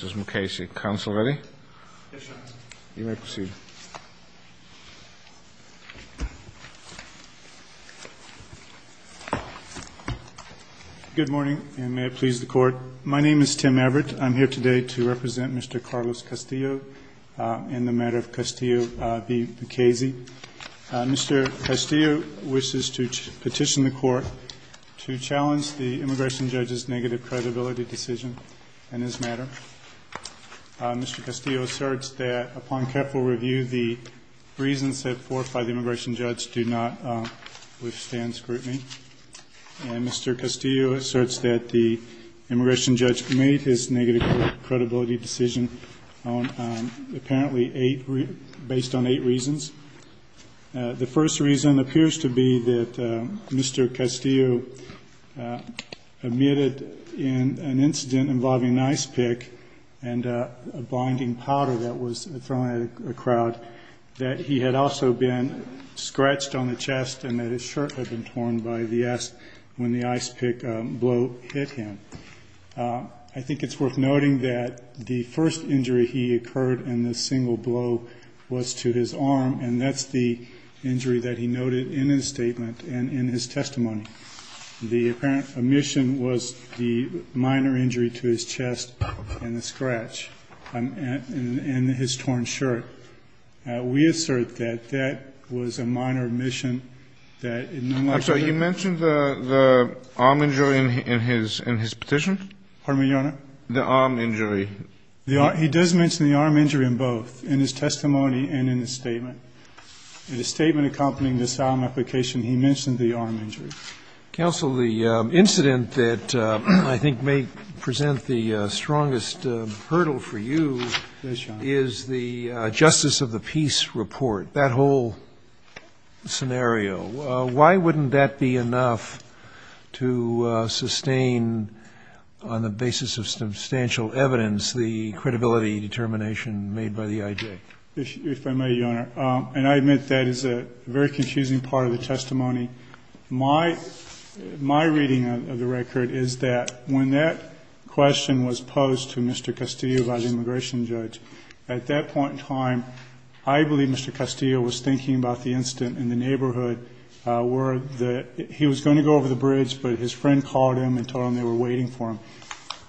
Good morning, and may it please the Court. My name is Tim Everett. I'm here today to represent Mr. Carlos Castillo in the matter of Castillo v. Mukasey. Mr. Castillo wishes to petition the Court to challenge the immigration judge's negative credibility decision in this matter. Mr. Castillo asserts that upon careful review, the reasons set forth by the immigration judge do not withstand scrutiny. And Mr. Castillo asserts that the immigration judge made his negative credibility decision apparently based on eight reasons. The first reason appears to be that Mr. Castillo admitted in an incident involving an ice pick and a blinding powder that was thrown at a crowd that he had also been scratched on the chest and that his shirt had been torn when the ice pick blow hit him. I think it's worth noting that the first injury he occurred in this single blow was to his arm, and that's the injury that he noted in his statement and in his testimony. The apparent omission was the minor injury to his chest and the scratch and his torn shirt. We assert that that was a minor omission that in unlike the other. I'm sorry. You mentioned the arm injury in his petition? Pardon me, Your Honor? The arm injury. He does mention the arm injury in both, in his testimony and in his statement. In his statement accompanying this arm application, he mentioned the arm injury. Counsel, the incident that I think may present the strongest hurdle for you is the Justice of the Peace report, that whole scenario. Why wouldn't that be enough to sustain on the basis of substantial evidence the credibility determination made by the I.J.? If I may, Your Honor, and I admit that is a very confusing part of the testimony. My reading of the record is that when that question was posed to Mr. Castillo by the immigration judge, at that point in time I believe Mr. Castillo was thinking about the incident in the neighborhood where he was going to go over the bridge, but his friend called him and told him they were waiting for him.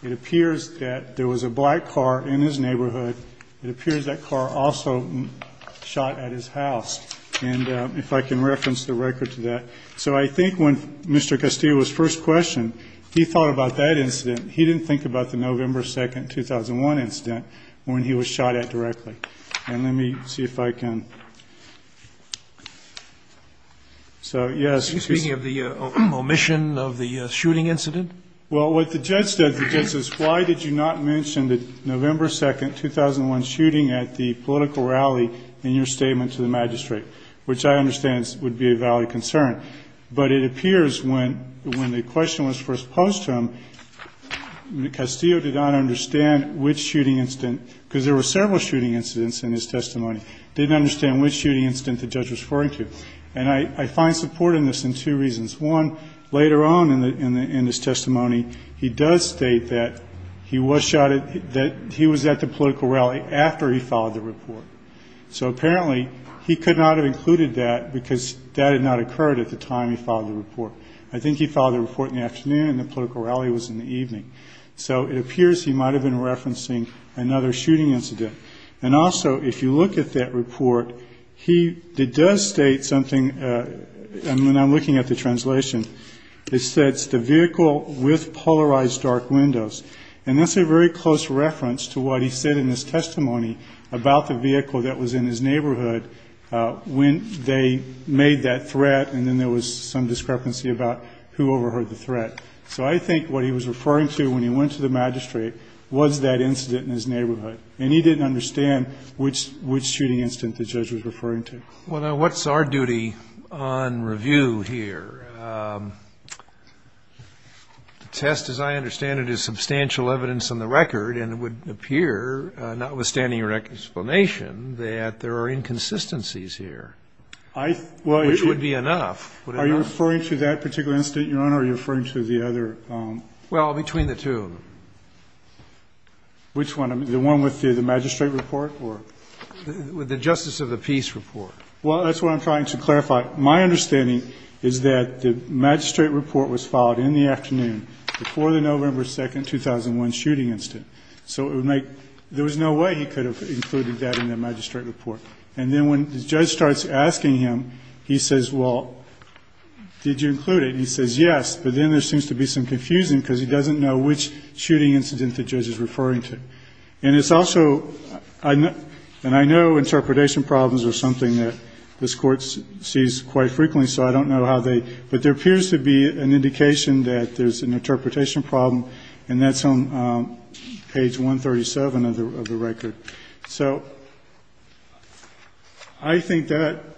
It appears that there was a black car in his neighborhood. It appears that car also shot at his house. And if I can reference the record to that. So I think when Mr. Castillo was first questioned, he thought about that incident. He didn't think about the November 2, 2001 incident when he was shot at directly. And let me see if I can. So, yes. Are you speaking of the omission of the shooting incident? Well, what the judge says, the judge says, why did you not mention the November 2, 2001 shooting at the political rally in your statement to the magistrate, which I understand would be a valid concern. But it appears when the question was first posed to him, Castillo did not understand which shooting incident, because there were several shooting incidents in his testimony, didn't understand which shooting incident the judge was referring to. And I find support in this in two reasons. One, later on in his testimony, he does state that he was shot at, that he was at the political rally after he filed the report. So apparently he could not have included that, because that had not occurred at the time he filed the report. I think he filed the report in the afternoon and the political rally was in the evening. So it appears he might have been referencing another shooting incident. And also, if you look at that report, he does state something, and I'm looking at the translation. It says, the vehicle with polarized dark windows. And that's a very close reference to what he said in his testimony about the vehicle that was in his neighborhood when they made that threat and then there was some discrepancy about who overheard the threat. So I think what he was referring to when he went to the magistrate was that incident in his neighborhood. And he didn't understand which shooting incident the judge was referring to. Well, now, what's our duty on review here? The test, as I understand it, is substantial evidence on the record, and it would appear, notwithstanding your explanation, that there are inconsistencies here, which would be enough. Are you referring to that particular incident, Your Honor, or are you referring to the other? Well, between the two. Which one? The one with the magistrate report or? With the Justice of the Peace report. Well, that's what I'm trying to clarify. My understanding is that the magistrate report was filed in the afternoon before the November 2, 2001, shooting incident. So it would make ñ there was no way he could have included that in the magistrate report. And then when the judge starts asking him, he says, well, did you include it? He says yes, but then there seems to be some confusion because he doesn't know which shooting incident the judge is referring to. And it's also ñ and I know interpretation problems are something that this Court sees quite frequently, so I don't know how they ñ but there appears to be an indication that there's an interpretation problem, and that's on page 137 of the record. So I think that ñ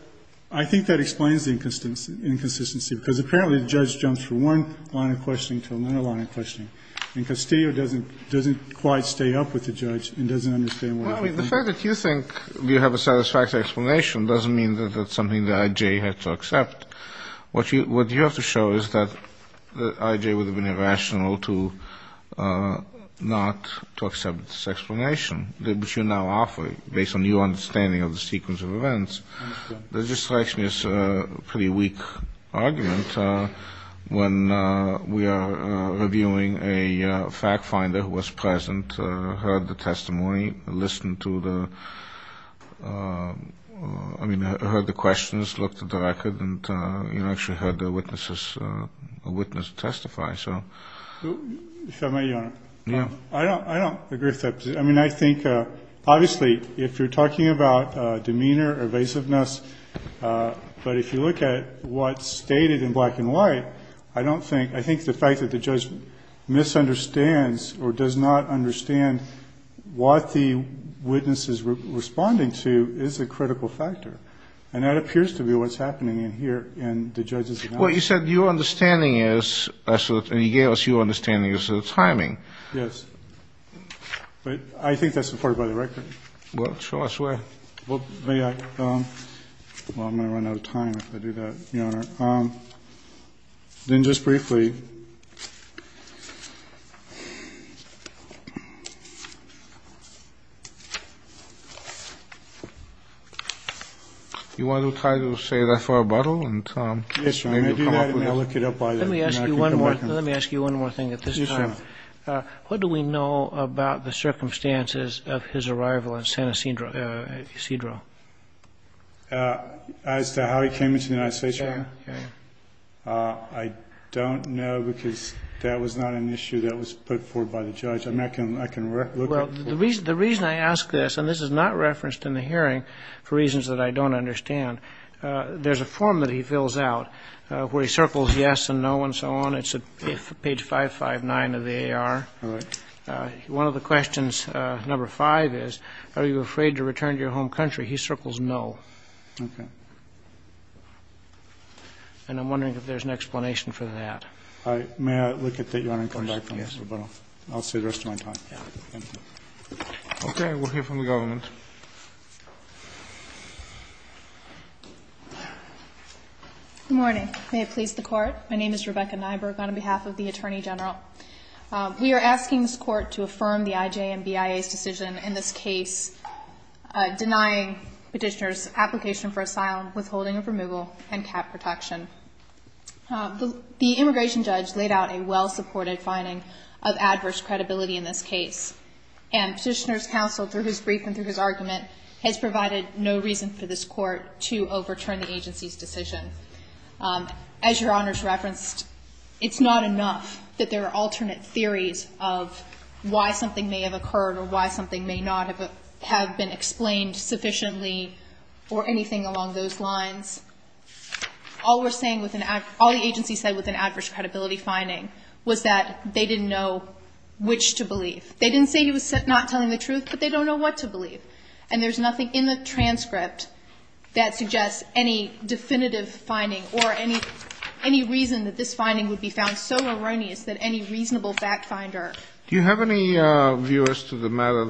I think that explains the inconsistency, because apparently the judge jumps from one line of questioning to another line of questioning. And Castillo doesn't quite stay up with the judge and doesn't understand what he's doing. Well, I mean, the fact that you think you have a satisfactory explanation doesn't mean that that's something that I.J. had to accept. What you have to show is that I.J. would have been irrational to not to accept this explanation. But you now offer it based on your understanding of the sequence of events. That just strikes me as a pretty weak argument when we are reviewing a fact finder who was present, heard the testimony, listened to the ñ I mean, heard the questions, looked at the record, and, you know, actually heard the witnesses ñ a witness testify. If I may, Your Honor. Yeah. I don't ñ I don't agree with that. I mean, I think ñ obviously, if you're talking about demeanor, evasiveness, but if you look at what's stated in black and white, I don't think ñ I think the fact that the judge misunderstands or does not understand what the witness is responding to is a critical factor. And that appears to be what's happening in here in the judge's analysis. Well, you said your understanding is ñ and you gave us your understanding is the timing. Yes. But I think that's supported by the record. Well, sure, I swear. Well, may I ñ well, I'm going to run out of time if I do that, Your Honor. Then just briefly, you want to try to say that for a bottle? Yes, Your Honor. Let me ask you one more ñ let me ask you one more thing at this time. Yes, Your Honor. What do we know about the circumstances of his arrival in San Ysidro? As to how he came into the United States, Your Honor? Yes, Your Honor. I don't know because that was not an issue that was put forward by the judge. I'm not going to ñ I can look up for it. Well, the reason I ask this, and this is not referenced in the hearing for reasons that I don't understand, there's a form that he fills out where he circles yes and no and so on. It's at page 559 of the AR. All right. One of the questions, number five is, are you afraid to return to your home country? He circles no. Okay. And I'm wondering if there's an explanation for that. All right. May I look at that, Your Honor, and come back for another bottle? Yes. I'll see the rest of my time. Okay. We'll hear from the government. Good morning. May it please the Court. My name is Rebecca Nyberg on behalf of the Attorney General. We are asking this Court to affirm the IJ and BIA's decision in this case denying petitioner's application for asylum, withholding of removal, and cap protection. The immigration judge laid out a well-supported finding of adverse credibility in this case, and petitioner's counsel, through his brief and through his argument, has provided no reason for this Court to overturn the agency's decision. As Your Honor's referenced, it's not enough that there are alternate theories of why something may have occurred or why something may not have been explained sufficiently or anything along those lines. All the agency said with an adverse credibility finding was that they didn't know which to believe. They didn't say he was not telling the truth, but they don't know what to believe. And there's nothing in the transcript that suggests any definitive finding or any reason that this finding would be found so erroneous that any reasonable fact finder. Do you have any views to the matter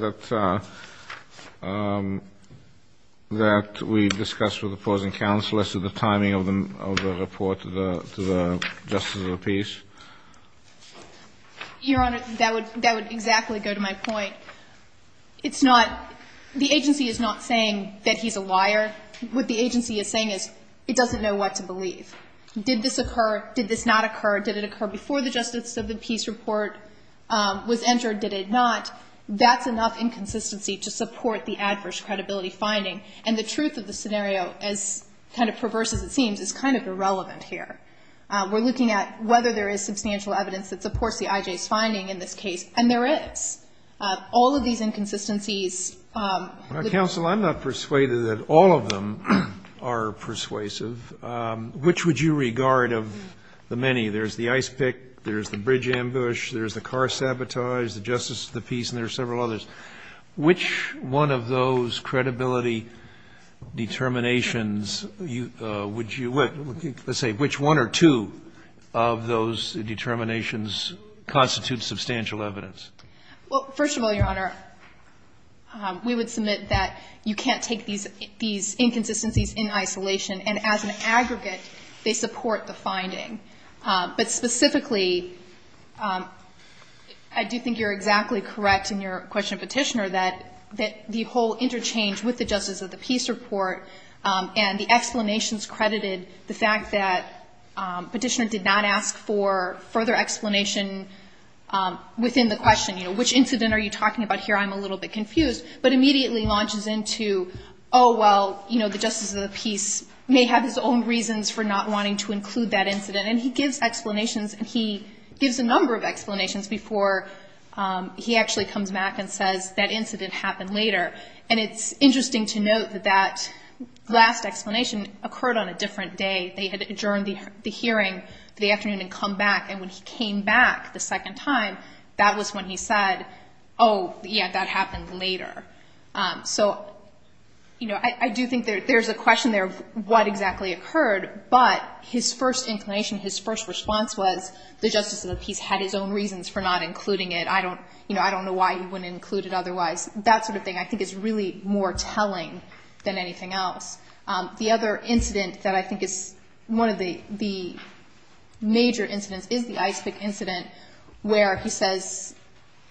that we discussed with opposing counselors to the timing of the report to the Justice of the Peace? Your Honor, that would exactly go to my point. It's not the agency is not saying that he's a liar. What the agency is saying is it doesn't know what to believe. Did this occur? Did this not occur? Did it occur before the Justice of the Peace report was entered? Did it not? That's enough inconsistency to support the adverse credibility finding. And the truth of the scenario, as kind of perverse as it seems, is kind of irrelevant here. We're looking at whether there is substantial evidence that supports the IJ's finding in this case, and there is. All of these inconsistencies. Well, counsel, I'm not persuaded that all of them are persuasive. Which would you regard of the many? There's the ice pick. There's the bridge ambush. There's the car sabotage, the Justice of the Peace, and there are several others. Which one of those credibility determinations would you say, which one or two of those determinations constitute substantial evidence? Well, first of all, Your Honor, we would submit that you can't take these inconsistencies in isolation. And as an aggregate, they support the finding. But specifically, I do think you're exactly correct in your question, Petitioner, that the whole interchange with the Justice of the Peace report and the explanations credited the fact that Petitioner did not ask for further explanation within the question, you know, which incident are you talking about here? I'm a little bit confused. But immediately launches into, oh, well, you know, the Justice of the Peace may have his own reasons for not wanting to include that incident. And he gives explanations. He gives a number of explanations before he actually comes back and says that incident happened later. And it's interesting to note that that last explanation occurred on a different day. They had adjourned the hearing the afternoon and come back. And when he came back the second time, that was when he said, oh, yeah, that happened later. So, you know, I do think there's a question there of what exactly occurred. But his first inclination, his first response was the Justice of the Peace had his own reasons for not including it. I don't know why he wouldn't include it otherwise. That sort of thing I think is really more telling than anything else. The other incident that I think is one of the major incidents is the ice pick incident where he says,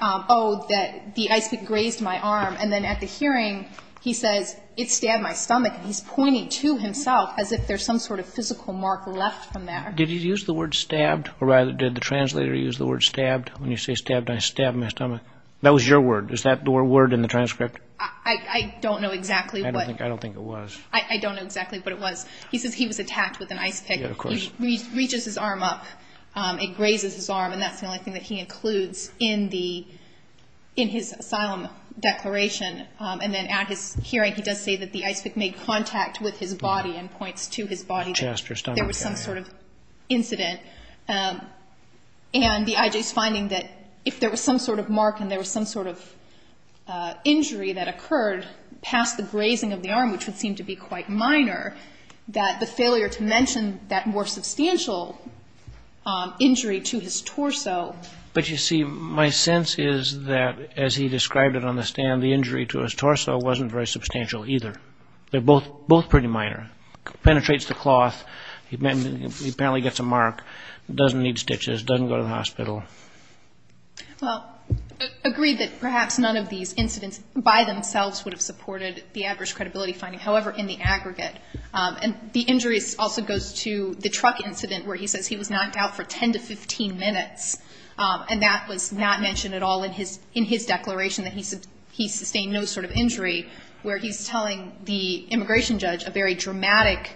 oh, that the ice pick grazed my arm. And then at the hearing, he says, it stabbed my stomach. And he's pointing to himself as if there's some sort of physical mark left from that. Did he use the word stabbed? Or rather, did the translator use the word stabbed? When you say stabbed, I stabbed my stomach. That was your word. Is that the word in the transcript? I don't know exactly what. I don't think it was. I don't know exactly what it was. He says he was attacked with an ice pick. Yeah, of course. He reaches his arm up. It grazes his arm. And that's the only thing that he includes in his asylum declaration. And then at his hearing, he does say that the ice pick made contact with his body and points to his body. Chest or stomach area. There was some sort of incident. And the I.J.'s finding that if there was some sort of mark and there was some sort of injury that occurred past the grazing of the arm, which would seem to be quite minor, that the failure to mention that more substantial injury to his torso. But, you see, my sense is that, as he described it on the stand, the injury to his torso wasn't very substantial either. They're both pretty minor. Penetrates the cloth. He apparently gets a mark. Doesn't need stitches. Doesn't go to the hospital. Well, agreed that perhaps none of these incidents by themselves would have supported the average credibility finding, however, in the aggregate. And the injuries also goes to the truck incident where he says he was knocked out for 10 to 15 minutes. And that was not mentioned at all in his declaration that he sustained no sort of injury, where he's telling the immigration judge a very dramatic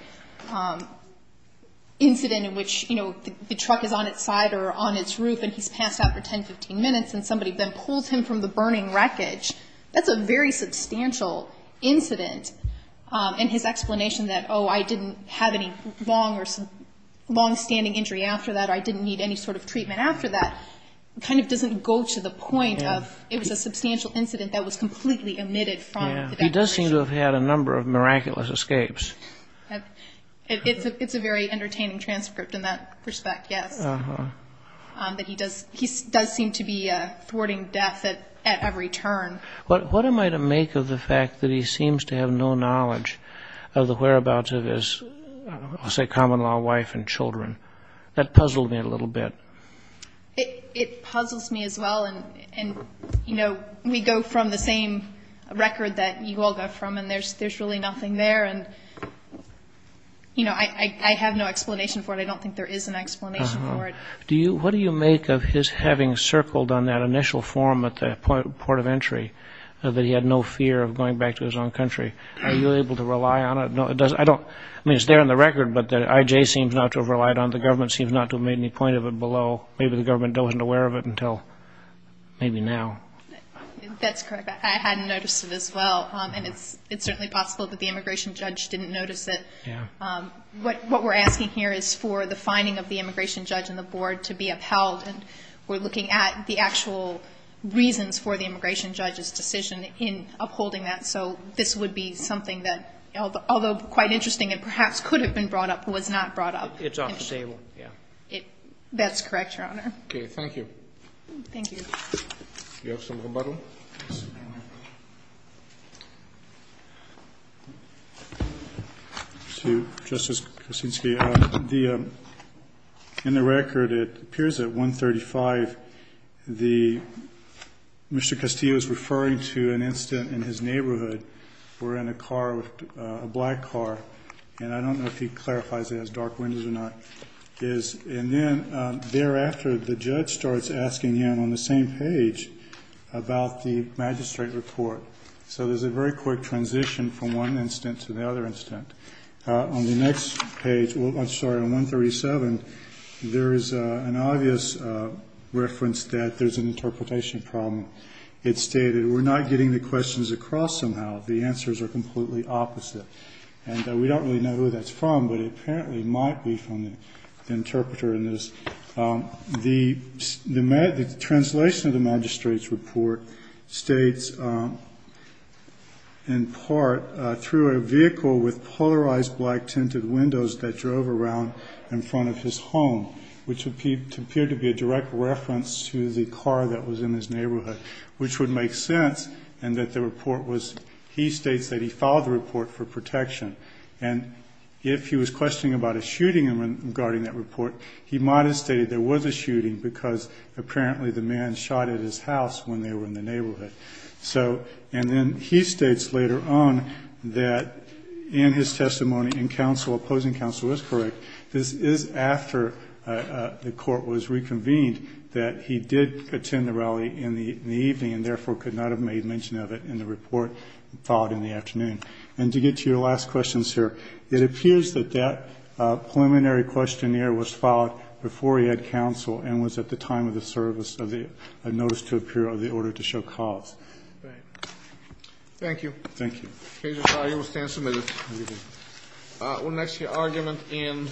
incident in which, you know, the truck is on its side or on its roof and he's passed out for 10 to 15 minutes and somebody then pulled him from the burning wreckage. That's a very substantial incident. And his explanation that, oh, I didn't have any longstanding injury after that, I didn't need any sort of treatment after that, kind of doesn't go to the point of it was a substantial incident that was completely omitted from the declaration. He does seem to have had a number of miraculous escapes. It's a very entertaining transcript in that respect, yes. Uh-huh. That he does seem to be thwarting death at every turn. What am I to make of the fact that he seems to have no knowledge of the whereabouts of his, I'll say, common-law wife and children? That puzzled me a little bit. It puzzles me as well. And, you know, we go from the same record that you all go from, and there's really nothing there. And, you know, I have no explanation for it. I don't think there is an explanation for it. What do you make of his having circled on that initial form at the point of entry that he had no fear of going back to his own country? Are you able to rely on it? I mean, it's there in the record, but the IJ seems not to have relied on it. The government seems not to have made any point of it below. Maybe the government wasn't aware of it until maybe now. That's correct. I hadn't noticed it as well. And it's certainly possible that the immigration judge didn't notice it. What we're asking here is for the finding of the immigration judge and the board to be upheld, and we're looking at the actual reasons for the immigration judge's decision in upholding that. So this would be something that, although quite interesting and perhaps could have been brought up, was not brought up. It's off the table, yeah. That's correct, Your Honor. Okay. Thank you. Thank you. Do you have some rebuttal? Mr. Castillo? To Justice Kuczynski, in the record it appears at 135 Mr. Castillo is referring to an incident in his neighborhood where in a car, a black car, and I don't know if he clarifies it has dark windows or not, and then thereafter the judge starts asking him on the same page about the magistrate report. So there's a very quick transition from one incident to the other incident. On the next page, I'm sorry, on 137, there is an obvious reference that there's an interpretation problem. It's stated we're not getting the questions across somehow. The answers are completely opposite. And we don't really know who that's from, but it apparently might be from the interpreter in this. The translation of the magistrate's report states, in part, through a vehicle with polarized black tinted windows that drove around in front of his home, which appeared to be a direct reference to the car that was in his neighborhood, which would make sense, and that the report was, he states that he filed the report for protection. And if he was questioning about a shooting regarding that report, he might have stated there was a shooting because apparently the man shot at his house when they were in the neighborhood. So, and then he states later on that in his testimony in counsel, opposing counsel is correct, this is after the court was reconvened that he did attend the rally in the evening and therefore could not have made mention of it in the report filed in the afternoon. And to get to your last question, sir, it appears that that preliminary questionnaire was filed before he had counsel and was at the time of the service of the notice to appear of the order to show cause. Thank you. Thank you. The case is filed. You will stand submitted. Thank you. We'll next hear argument in.